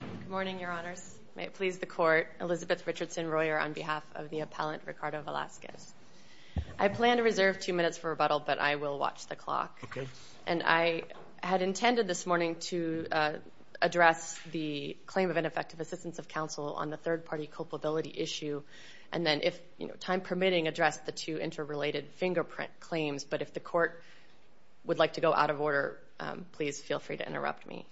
Good morning, your honors. May it please the court, Elizabeth Richardson-Royer on behalf of the appellant Ricardo Velasquez. I plan to reserve two minutes for rebuttal, but I will watch the clock. And I had intended this morning to address the claim of ineffective assistance of counsel on the third-party culpability issue, and then, if time permitting, address the two interrelated fingerprint claims. But if the court would like to go out of order, please feel free to interrupt me.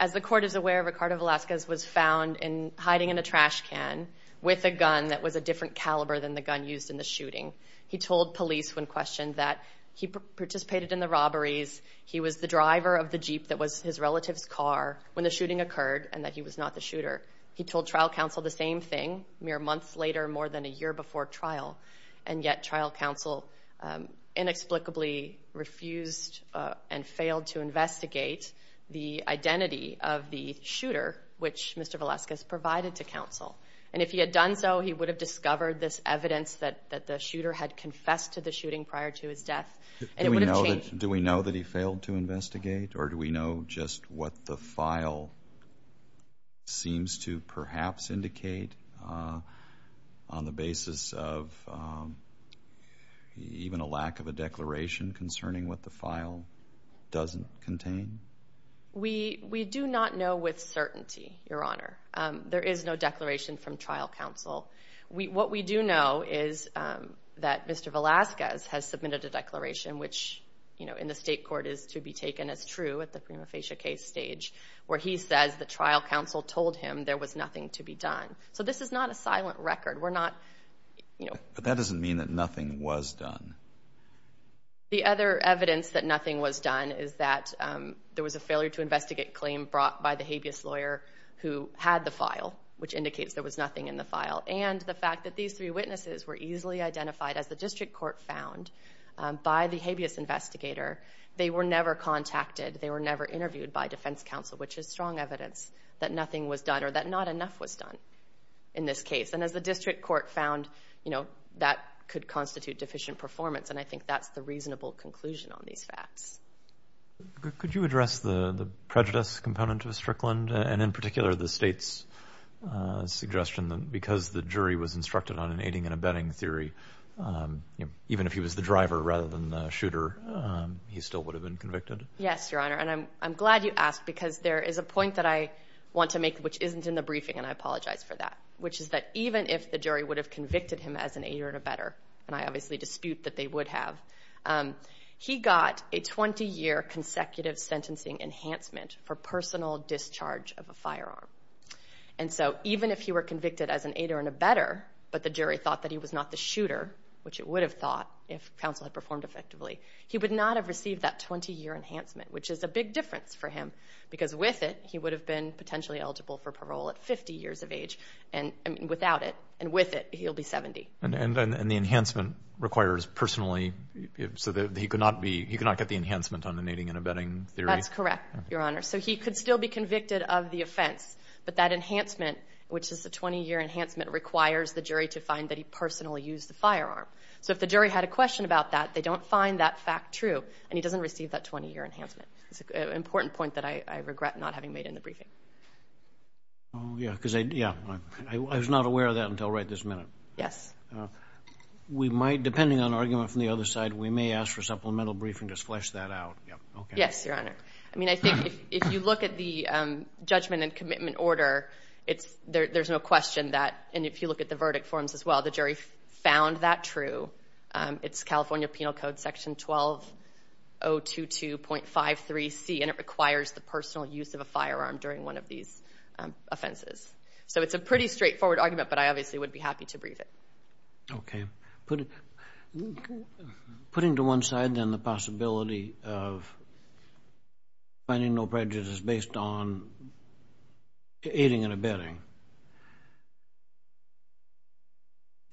As the court is aware, Ricardo Velasquez was found hiding in a trash can with a gun that was a different caliber than the gun used in the shooting. He told police when questioned that he participated in the robberies, he was the driver of the Jeep that was his relative's car when the shooting occurred, and that he was not the shooter. He told trial counsel the same thing mere months later, more than a year before trial. And yet trial counsel inexplicably refused and failed to investigate the identity of the shooter, which Mr. Velasquez provided to counsel. And if he had done so, he would have discovered this evidence that the shooter had confessed to the shooting prior to his death. Do we know that he failed to investigate? Or do we know just what the file seems to perhaps indicate on the basis of even a lack of a declaration concerning what the file doesn't contain? We do not know with certainty, Your Honor. There is no declaration from trial counsel. What we do know is that Mr. Velasquez has submitted a declaration, which in the state court is to be taken as true at the prima facie case stage, where he says the trial counsel told him there was nothing to be done. So this is not a silent record. But that doesn't mean that nothing was done. The other evidence that nothing was done is that there was a failure to investigate claim brought by the habeas lawyer who had the file, which indicates there was nothing in the file, and the fact that these three witnesses were easily identified, as the district court found, by the habeas investigator. They were never contacted. They were never interviewed by defense counsel, which is strong evidence that nothing was done or that not enough was done in this case. And as the district court found, you know, that could constitute deficient performance, and I think that's the reasonable conclusion on these facts. Could you address the prejudice component of Strickland and, in particular, the state's suggestion that because the jury was instructed on an aiding and abetting theory, even if he was the driver rather than the shooter, he still would have been convicted? Yes, Your Honor, and I'm glad you asked because there is a point that I want to make, which isn't in the briefing, and I apologize for that, which is that even if the jury would have convicted him as an aider and abetter, and I obviously dispute that they would have, he got a 20-year consecutive sentencing enhancement for personal discharge of a firearm. And so even if he were convicted as an aider and abetter, but the jury thought that he was not the shooter, which it would have thought if counsel had performed effectively, he would not have received that 20-year enhancement, which is a big difference for him, because with it, he would have been potentially eligible for parole at 50 years of age, and without it, and with it, he'll be 70. And the enhancement requires personally, so he could not get the enhancement on an aiding and abetting theory? That's correct, Your Honor. So he could still be convicted of the offense, but that enhancement, which is the 20-year enhancement, requires the jury to find that he personally used the firearm. So if the jury had a question about that, they don't find that fact true, and he doesn't receive that 20-year enhancement. It's an important point that I regret not having made in the briefing. Oh, yeah, because I was not aware of that until right this minute. Yes? We might, depending on argument from the other side, we may ask for supplemental briefing to flesh that out. Yes, Your Honor. I mean, I think if you look at the judgment and commitment order, there's no question that, and if you look at the verdict forms as well, the jury found that true. It's California Penal Code Section 12022.53C, and it requires the personal use of a firearm during one of these offenses. So it's a pretty straightforward argument, but I obviously would be happy to brief it. Okay. Putting to one side then the possibility of finding no prejudice based on aiding and abetting,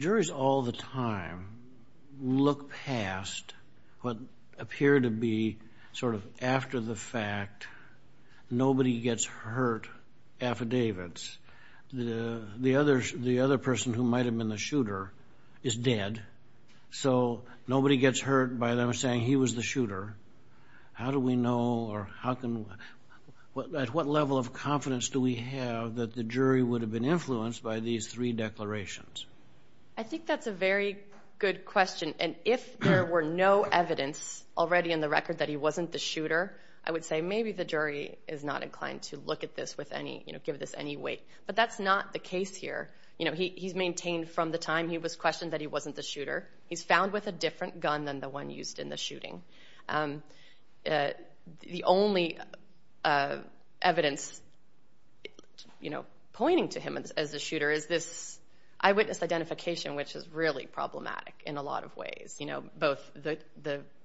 juries all the time look past what appear to be sort of after-the-fact, nobody-gets-hurt affidavits. The other person who might have been the shooter is dead, so nobody gets hurt by them saying he was the shooter. How do we know or at what level of confidence do we have that the jury would have been influenced by these three declarations? I think that's a very good question, and if there were no evidence already in the record that he wasn't the shooter, I would say maybe the jury is not inclined to look at this with any, you know, give this any weight. But that's not the case here. You know, he's maintained from the time he was questioned that he wasn't the shooter. He's found with a different gun than the one used in the shooting. The only evidence, you know, pointing to him as the shooter is this eyewitness identification, which is really problematic in a lot of ways, you know, both the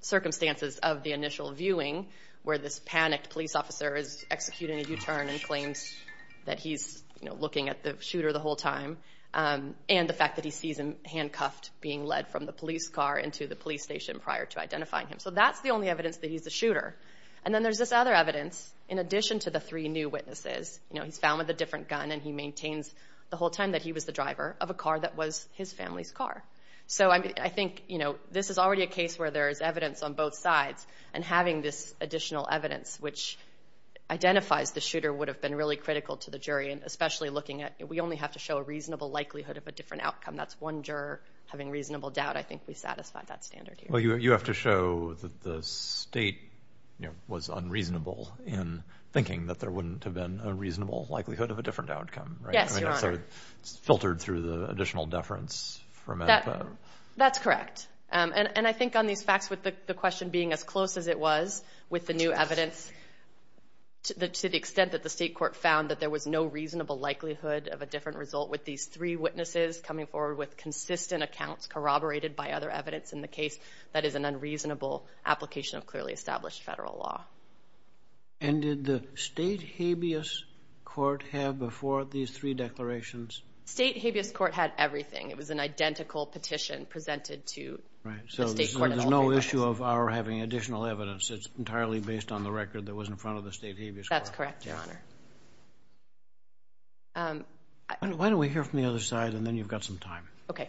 circumstances of the initial viewing where this panicked police officer is executing a U-turn and claims that he's, you know, handcuffed, being led from the police car into the police station prior to identifying him. So that's the only evidence that he's the shooter. And then there's this other evidence in addition to the three new witnesses. You know, he's found with a different gun, and he maintains the whole time that he was the driver of a car that was his family's car. So I think, you know, this is already a case where there is evidence on both sides, and having this additional evidence which identifies the shooter would have been really critical to the jury, and especially looking at we only have to show a reasonable likelihood of a different outcome. That's one juror having reasonable doubt. I think we satisfied that standard here. Well, you have to show that the state, you know, was unreasonable in thinking that there wouldn't have been a reasonable likelihood of a different outcome. Yes, Your Honor. So it's filtered through the additional deference from that. That's correct. And I think on these facts with the question being as close as it was with the new evidence, to the extent that the state court found that there was no reasonable likelihood of a different result with these three witnesses coming forward with consistent accounts corroborated by other evidence in the case, that is an unreasonable application of clearly established federal law. And did the state habeas court have before these three declarations? State habeas court had everything. It was an identical petition presented to the state court. So there's no issue of our having additional evidence. It's entirely based on the record that was in front of the state habeas court. That's correct, Your Honor. Why don't we hear from the other side and then you've got some time. Okay.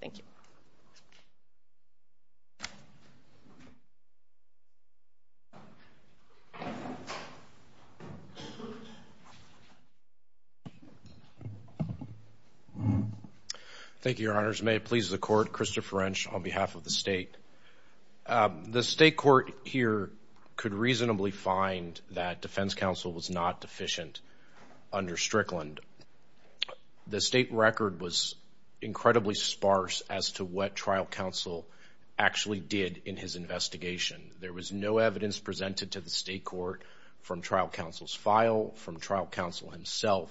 Thank you. Thank you, Your Honors. May it please the Court, Christopher Wrench on behalf of the state. The state court here could reasonably find that defense counsel was not deficient under Strickland. The state record was incredibly sparse as to what trial counsel actually did in his investigation. There was no evidence presented to the state court from trial counsel's file, from trial counsel himself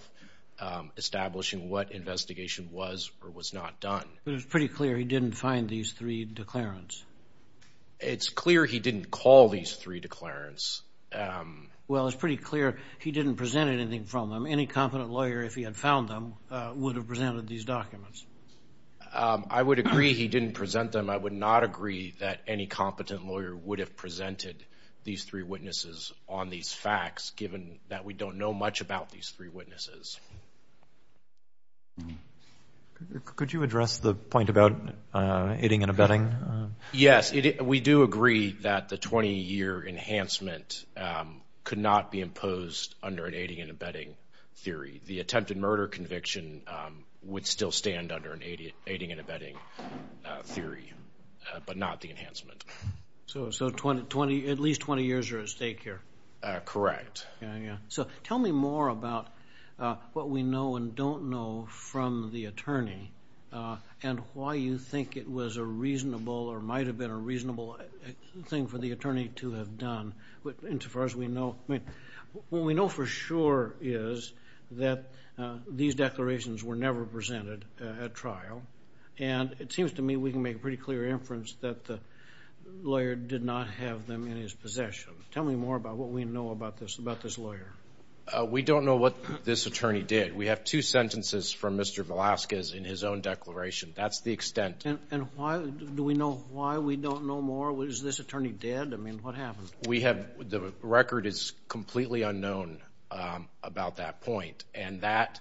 establishing what investigation was or was not done. But it was pretty clear he didn't find these three declarants. It's clear he didn't call these three declarants. Well, it's pretty clear he didn't present anything from them. Any competent lawyer, if he had found them, would have presented these documents. I would agree he didn't present them. I would not agree that any competent lawyer would have presented these three witnesses on these facts, given that we don't know much about these three witnesses. Could you address the point about aiding and abetting? Yes. We do agree that the 20-year enhancement could not be imposed under an aiding and abetting theory. The attempted murder conviction would still stand under an aiding and abetting theory, but not the enhancement. So at least 20 years are at stake here? Correct. Tell me more about what we know and don't know from the attorney and why you think it was a reasonable or might have been a reasonable thing for the attorney to have done. What we know for sure is that these declarations were never presented at trial, and it seems to me we can make a pretty clear inference that the lawyer did not have them in his possession. Tell me more about what we know about this lawyer. We don't know what this attorney did. We have two sentences from Mr. Velazquez in his own declaration. That's the extent. And do we know why we don't know more? Was this attorney dead? I mean, what happened? The record is completely unknown about that point, and that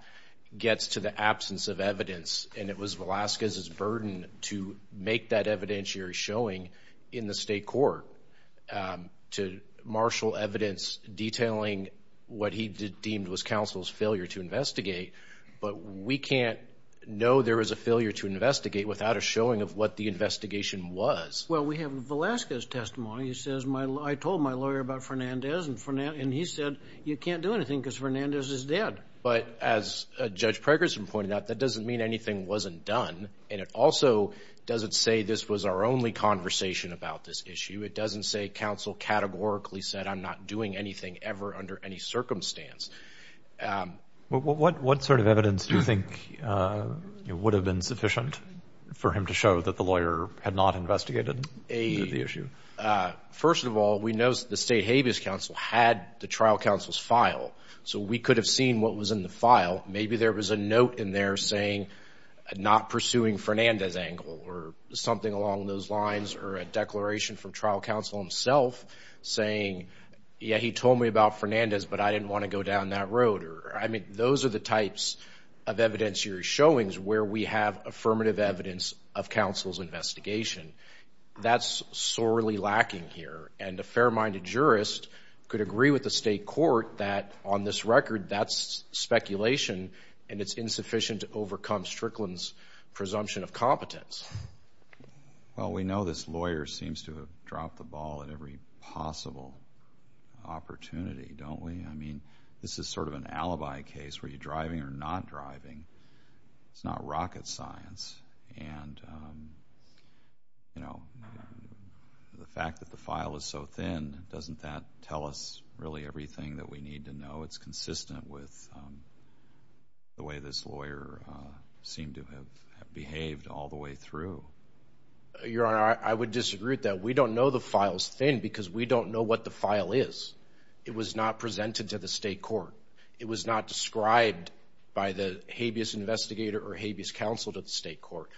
gets to the absence of evidence, and it was Velazquez's burden to make that evidentiary showing in the state court to marshal evidence detailing what he deemed was counsel's failure to investigate. But we can't know there was a failure to investigate without a showing of what the investigation was. Well, we have Velazquez's testimony. He says, I told my lawyer about Fernandez, and he said, you can't do anything because Fernandez is dead. But as Judge Pregerson pointed out, that doesn't mean anything wasn't done, and it also doesn't say this was our only conversation about this issue. It doesn't say counsel categorically said, I'm not doing anything ever under any circumstance. What sort of evidence do you think would have been sufficient for him to show that the lawyer had not investigated the issue? First of all, we know the state habeas counsel had the trial counsel's file, so we could have seen what was in the file. Maybe there was a note in there saying not pursuing Fernandez's angle or something along those lines or a declaration from trial counsel himself saying, yeah, he told me about Fernandez, but I didn't want to go down that road. I mean, those are the types of evidentiary showings where we have affirmative evidence of counsel's investigation. That's sorely lacking here, and a fair-minded jurist could agree with the state court that on this record that's speculation and it's insufficient to overcome Strickland's presumption of competence. Well, we know this lawyer seems to have dropped the ball at every possible opportunity, don't we? I mean, this is sort of an alibi case. Were you driving or not driving? It's not rocket science. And, you know, the fact that the file is so thin, doesn't that tell us really everything that we need to know? It's consistent with the way this lawyer seemed to have behaved all the way through. Your Honor, I would disagree with that. We don't know the file's thin because we don't know what the file is. It was not presented to the state court. It was not described by the habeas investigator or habeas counsel to the state court.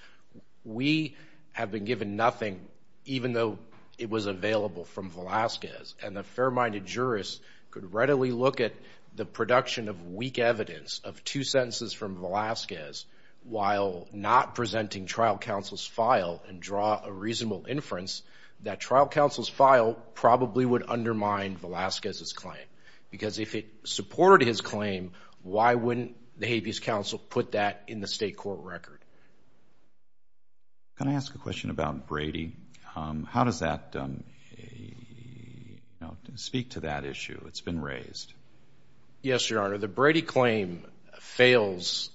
We have been given nothing, even though it was available from Velazquez, and a fair-minded jurist could readily look at the production of weak evidence of two sentences from Velazquez while not presenting trial counsel's file and draw a reasonable inference that trial counsel's file probably would undermine Velazquez's claim. Because if it supported his claim, why wouldn't the habeas counsel put that in the state court record? Can I ask a question about Brady? How does that speak to that issue that's been raised? Yes, Your Honor. The Brady claim fails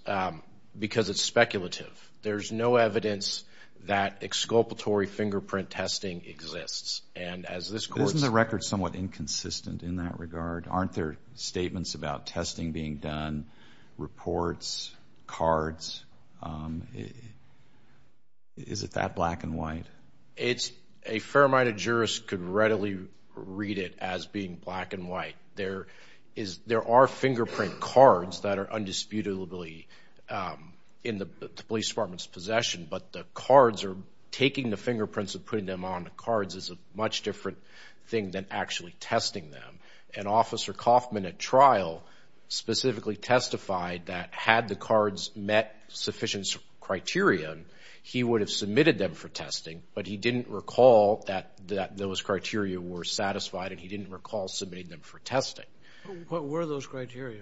because it's speculative. There's no evidence that exculpatory fingerprint testing exists. Isn't the record somewhat inconsistent in that regard? Aren't there statements about testing being done, reports, cards? Is it that black and white? A fair-minded jurist could readily read it as being black and white. There are fingerprint cards that are undisputably in the police department's possession, but the cards are taking the fingerprints and putting them on the cards is a much different thing than actually testing them. And Officer Kaufman at trial specifically testified that had the cards met sufficient criteria, he would have submitted them for testing, but he didn't recall that those criteria were satisfied and he didn't recall submitting them for testing. What were those criteria?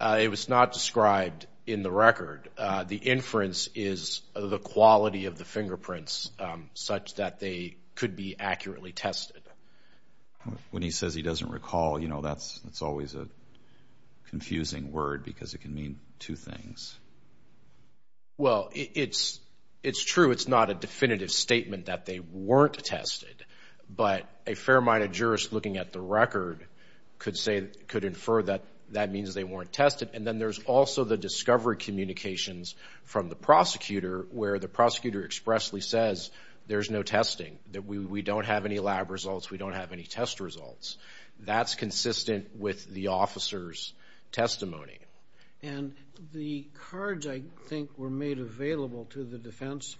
It was not described in the record. The inference is the quality of the fingerprints such that they could be accurately tested. When he says he doesn't recall, you know, that's always a confusing word because it can mean two things. Well, it's true it's not a definitive statement that they weren't tested, but a fair-minded jurist looking at the record could infer that that means they weren't tested. And then there's also the discovery communications from the prosecutor where the prosecutor expressly says there's no testing, that we don't have any lab results, we don't have any test results. That's consistent with the officer's testimony. And the cards, I think, were made available to the defense.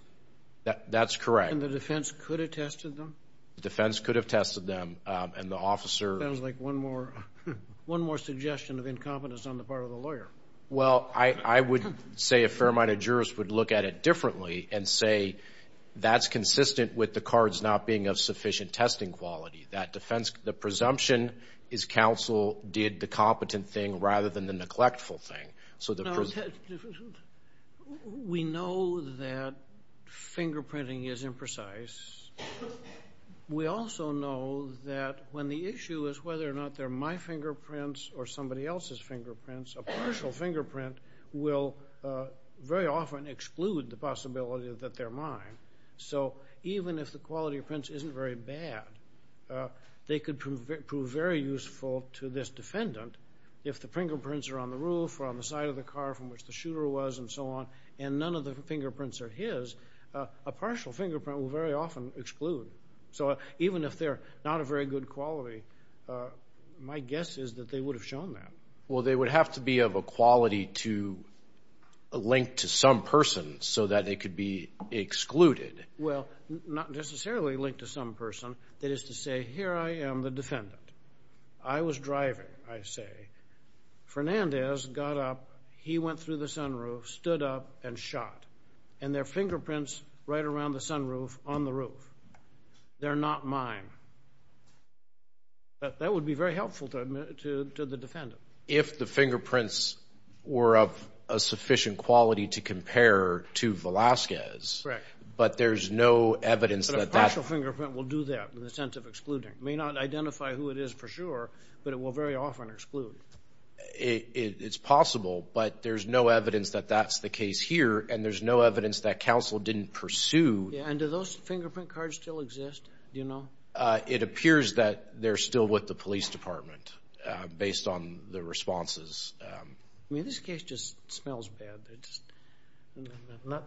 That's correct. And the defense could have tested them? The defense could have tested them and the officer. Sounds like one more suggestion of incompetence on the part of the lawyer. Well, I would say a fair-minded jurist would look at it differently and say that's consistent with the cards not being of sufficient testing quality. That defense, the presumption is counsel did the competent thing rather than the neglectful thing. We know that fingerprinting is imprecise. We also know that when the issue is whether or not they're my fingerprints or somebody else's fingerprints, a partial fingerprint will very often exclude the possibility that they're mine. So even if the quality of prints isn't very bad, they could prove very useful to this defendant if the fingerprints are on the roof or on the side of the car from which the shooter was and so on and none of the fingerprints are his, a partial fingerprint will very often exclude. So even if they're not of very good quality, my guess is that they would have shown that. Well, they would have to be of a quality to link to some person so that they could be excluded. Well, not necessarily link to some person. That is to say, here I am, the defendant. I was driving, I say. Fernandez got up. He went through the sunroof, stood up, and shot, and there are fingerprints right around the sunroof on the roof. They're not mine. That would be very helpful to the defendant. If the fingerprints were of a sufficient quality to compare to Velazquez, but there's no evidence that that's... but it will very often exclude. It's possible, but there's no evidence that that's the case here, and there's no evidence that counsel didn't pursue. And do those fingerprint cards still exist? Do you know? It appears that they're still with the police department based on the responses. I mean, this case just smells bad.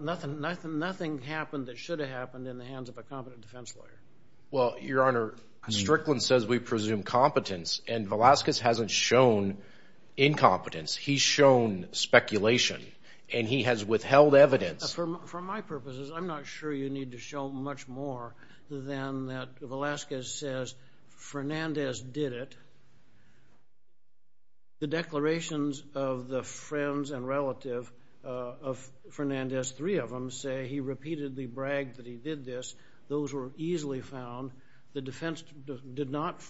Nothing happened that should have happened in the hands of a competent defense lawyer. Well, Your Honor, Strickland says we presume competence, and Velazquez hasn't shown incompetence. He's shown speculation, and he has withheld evidence. For my purposes, I'm not sure you need to show much more than that Velazquez says Fernandez did it. The declarations of the friends and relative of Fernandez, three of them, say he repeatedly bragged that he did this. Those were easily found. The defense did not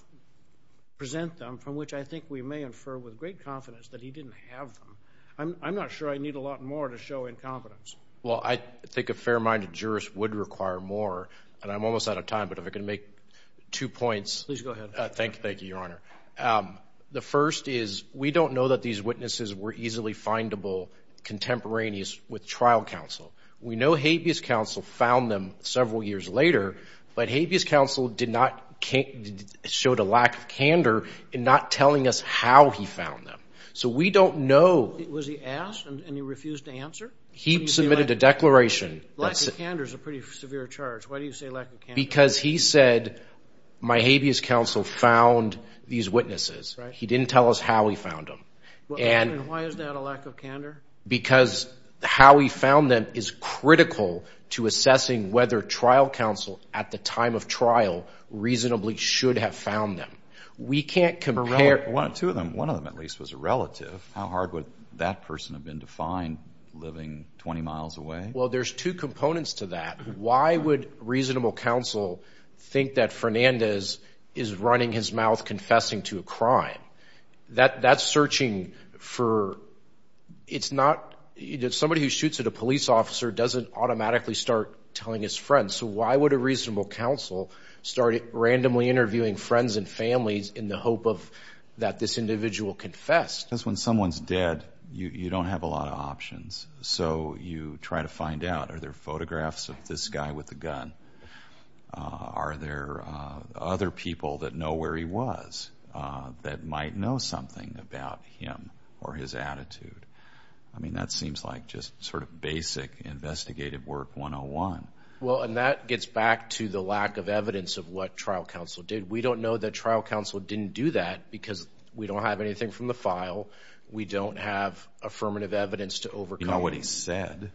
present them, from which I think we may infer with great confidence that he didn't have them. I'm not sure I need a lot more to show incompetence. Well, I think a fair-minded jurist would require more, and I'm almost out of time, but if I could make two points. Please go ahead. Thank you, Your Honor. The first is we don't know that these witnesses were easily findable contemporaneous with trial counsel. We know habeas counsel found them several years later, but habeas counsel showed a lack of candor in not telling us how he found them. So we don't know. Was he asked, and he refused to answer? He submitted a declaration. Lack of candor is a pretty severe charge. Why do you say lack of candor? Because he said my habeas counsel found these witnesses. He didn't tell us how he found them. And why is that a lack of candor? Because how he found them is critical to assessing whether trial counsel at the time of trial reasonably should have found them. We can't compare. Two of them. One of them, at least, was a relative. How hard would that person have been to find living 20 miles away? Well, there's two components to that. Why would reasonable counsel think that Fernandez is running his mouth confessing to a crime? That's searching for ñ it's not ñ somebody who shoots at a police officer doesn't automatically start telling his friends. So why would a reasonable counsel start randomly interviewing friends and families in the hope that this individual confessed? Because when someone's dead, you don't have a lot of options. So you try to find out, are there photographs of this guy with a gun? Are there other people that know where he was that might know something about him or his attitude? I mean, that seems like just sort of basic investigative work 101. Well, and that gets back to the lack of evidence of what trial counsel did. We don't know that trial counsel didn't do that because we don't have anything from the file. We don't have affirmative evidence to overcome. We know what he said.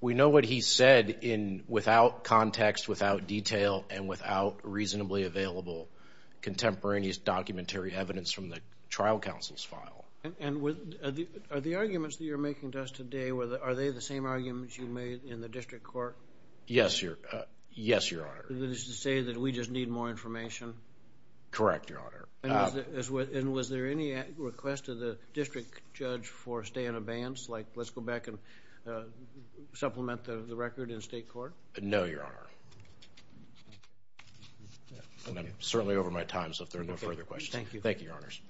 He said without context, without detail, and without reasonably available contemporaneous documentary evidence from the trial counsel's file. And are the arguments that you're making to us today, are they the same arguments you made in the district court? Yes, Your Honor. That is to say that we just need more information? Correct, Your Honor. And was there any request to the district judge for a stay in abeyance, like let's go back and supplement the record in state court? No, Your Honor. I'm certainly over my time, so if there are no further questions. Thank you. Thank you, Your Honors.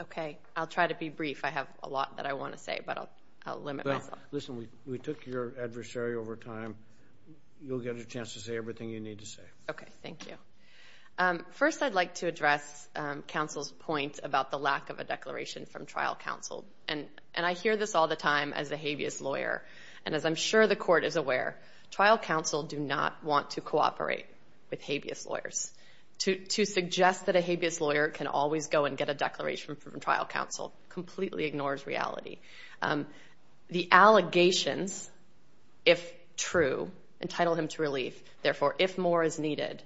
Okay. I'll try to be brief. I have a lot that I want to say, but I'll limit myself. Listen, we took your adversary over time. You'll get a chance to say everything you need to say. Okay. Thank you. First, I'd like to address counsel's point about the lack of a declaration from trial counsel. And I hear this all the time as a habeas lawyer. And as I'm sure the court is aware, trial counsel do not want to cooperate with habeas lawyers. To suggest that a habeas lawyer can always go and get a declaration from trial counsel completely ignores reality. The allegations, if true, entitle him to relief. Therefore, if more is needed,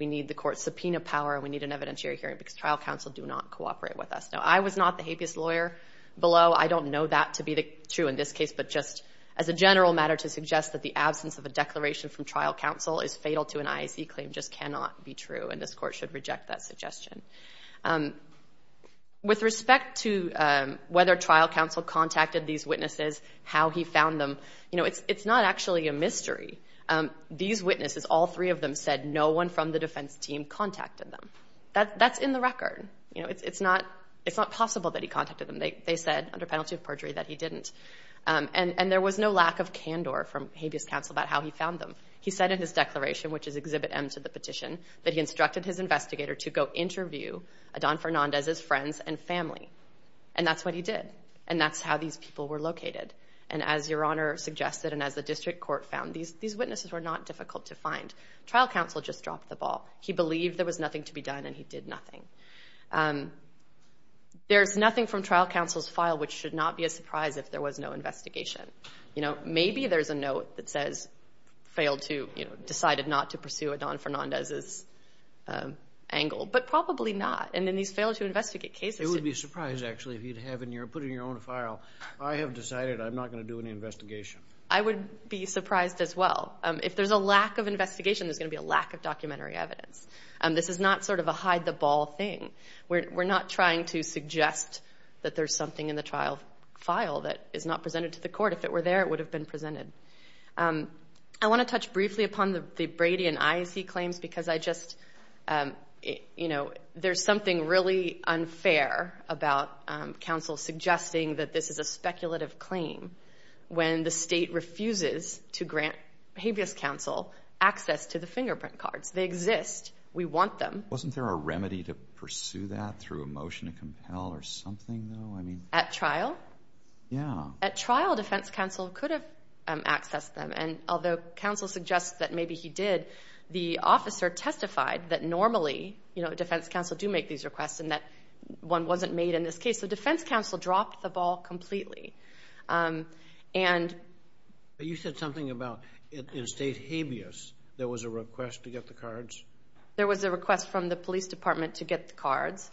we need the court's subpoena power and we need an evidentiary hearing because trial counsel do not cooperate with us. Now, I was not the habeas lawyer below. I don't know that to be true in this case. But just as a general matter to suggest that the absence of a declaration from trial counsel is fatal to an IAC claim just cannot be true, and this court should reject that suggestion. With respect to whether trial counsel contacted these witnesses, how he found them, you know, it's not actually a mystery. These witnesses, all three of them said no one from the defense team contacted them. That's in the record. You know, it's not possible that he contacted them. They said under penalty of perjury that he didn't. And there was no lack of candor from habeas counsel about how he found them. He said in his declaration, which is Exhibit M to the petition, that he instructed his investigator to go interview Adan Fernandez's friends and family. And that's what he did. And that's how these people were located. And as Your Honor suggested and as the district court found, these witnesses were not difficult to find. Trial counsel just dropped the ball. He believed there was nothing to be done and he did nothing. There's nothing from trial counsel's file which should not be a surprise if there was no investigation. You know, maybe there's a note that says failed to, you know, decided not to pursue Adan Fernandez's angle. But probably not. And then he's failed to investigate cases. It would be a surprise, actually, if you'd put it in your own file. I have decided I'm not going to do any investigation. I would be surprised as well. If there's a lack of investigation, there's going to be a lack of documentary evidence. This is not sort of a hide-the-ball thing. We're not trying to suggest that there's something in the trial file that is not presented to the court. If it were there, it would have been presented. I want to touch briefly upon the Brady and Iacy claims because I just, you know, there's something really unfair about counsel suggesting that this is a speculative claim when the state refuses to grant habeas counsel access to the fingerprint cards. They exist. We want them. Wasn't there a remedy to pursue that through a motion to compel or something, though? At trial? Yeah. At trial, defense counsel could have accessed them. And although counsel suggests that maybe he did, the officer testified that normally, you know, defense counsel do make these requests and that one wasn't made in this case. So defense counsel dropped the ball completely. You said something about in state habeas there was a request to get the cards? There was a request from the police department to get the cards,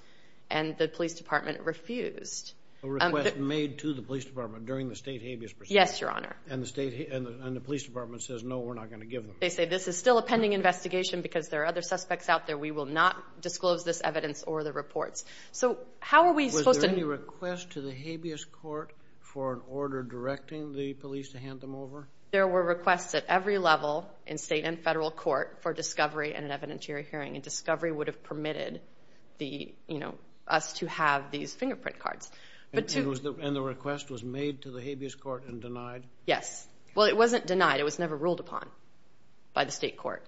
and the police department refused. A request made to the police department during the state habeas process? Yes, Your Honor. And the police department says, no, we're not going to give them? They say, this is still a pending investigation because there are other suspects out there. We will not disclose this evidence or the reports. So how are we supposed to? Was there any request to the habeas court for an order directing the police to hand them over? There were requests at every level in state and federal court for discovery and an evidentiary hearing, and discovery would have permitted the, you know, us to have these fingerprint cards. And the request was made to the habeas court and denied? Yes. Well, it wasn't denied. It was never ruled upon by the state court.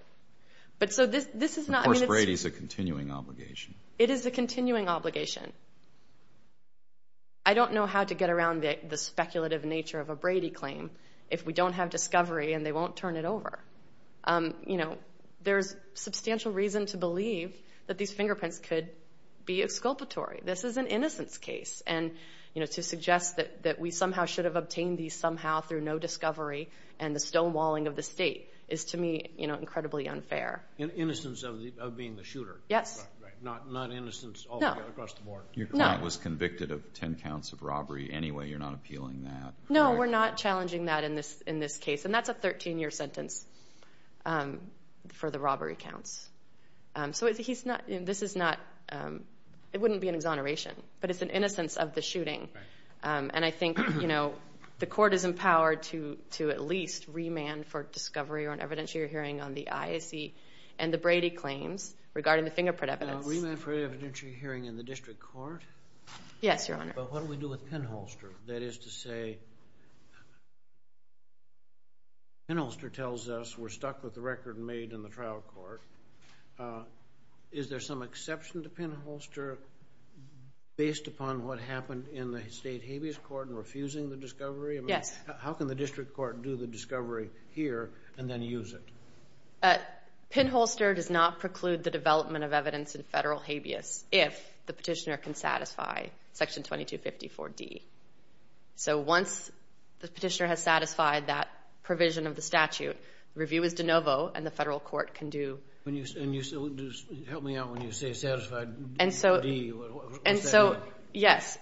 But so this is not... Of course, Brady is a continuing obligation. It is a continuing obligation. I don't know how to get around the speculative nature of a Brady claim if we don't have discovery and they won't turn it over. You know, there's substantial reason to believe that these fingerprints could be exculpatory. This is an innocence case. And, you know, to suggest that we somehow should have obtained these somehow through no discovery and the stonewalling of the state is, to me, you know, incredibly unfair. Innocence of being the shooter? Yes. Not innocence all the way across the board? No. Your client was convicted of 10 counts of robbery anyway. You're not appealing that? No, we're not challenging that in this case. And that's a 13-year sentence for the robbery counts. So he's not... This is not... It wouldn't be an exoneration, but it's an innocence of the shooting. And I think, you know, the court is empowered to at least remand for discovery or an evidentiary hearing on the ISC and the Brady claims regarding the fingerprint evidence. Remand for evidentiary hearing in the district court? Yes, Your Honor. But what do we do with Penholster? That is to say, Penholster tells us we're stuck with the record made in the trial court. Is there some exception to Penholster based upon what happened in the state habeas court and refusing the discovery? Yes. How can the district court do the discovery here and then use it? Penholster does not preclude the development of evidence in federal habeas if the petitioner can satisfy Section 2254D. So once the petitioner has satisfied that provision of the statute, review is de novo and the federal court can do... Help me out when you say satisfied D. And so, yes.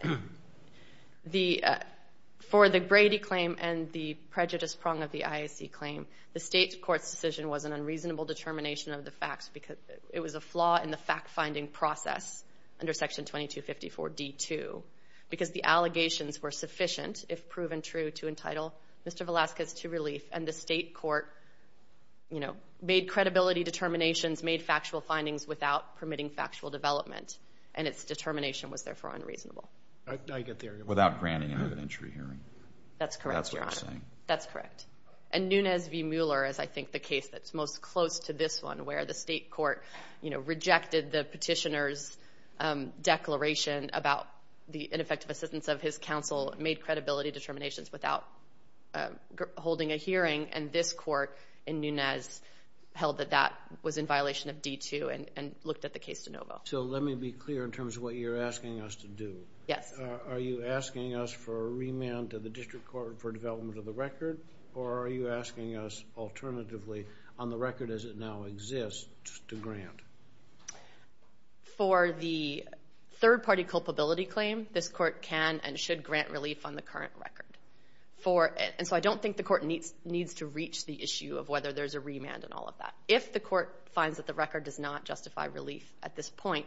For the Brady claim and the prejudice prong of the ISC claim, the state court's decision was an unreasonable determination of the facts because it was a flaw in the fact-finding process under Section 2254D-2 because the allegations were sufficient, if proven true, to entitle Mr. Velazquez to relief, and the state court, you know, made credibility determinations, made factual findings without permitting factual development, and its determination was therefore unreasonable. Without granting an evidentiary hearing. That's correct, Your Honor. That's what I'm saying. That's correct. And Nunez v. Mueller is, I think, the case that's most close to this one where the state court, you know, rejected the petitioner's declaration about the ineffective assistance of his counsel, made credibility determinations without holding a hearing, and this court in Nunez held that that was in violation of D.2 and looked at the case de novo. So let me be clear in terms of what you're asking us to do. Yes. Are you asking us for a remand to the district court for development of the record, or are you asking us alternatively on the record as it now exists to grant? For the third-party culpability claim, this court can and should grant relief on the current record. And so I don't think the court needs to reach the issue of whether there's a remand and all of that. If the court finds that the record does not justify relief at this point,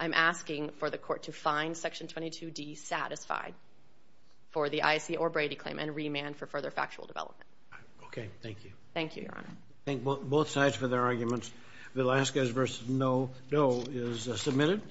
I'm asking for the court to find Section 22D satisfied for the Issa or Brady claim and remand for further factual development. Okay. Thank you. Thank you, Your Honor. Thank both sides for their arguments. Villescaz v. Noe is submitted.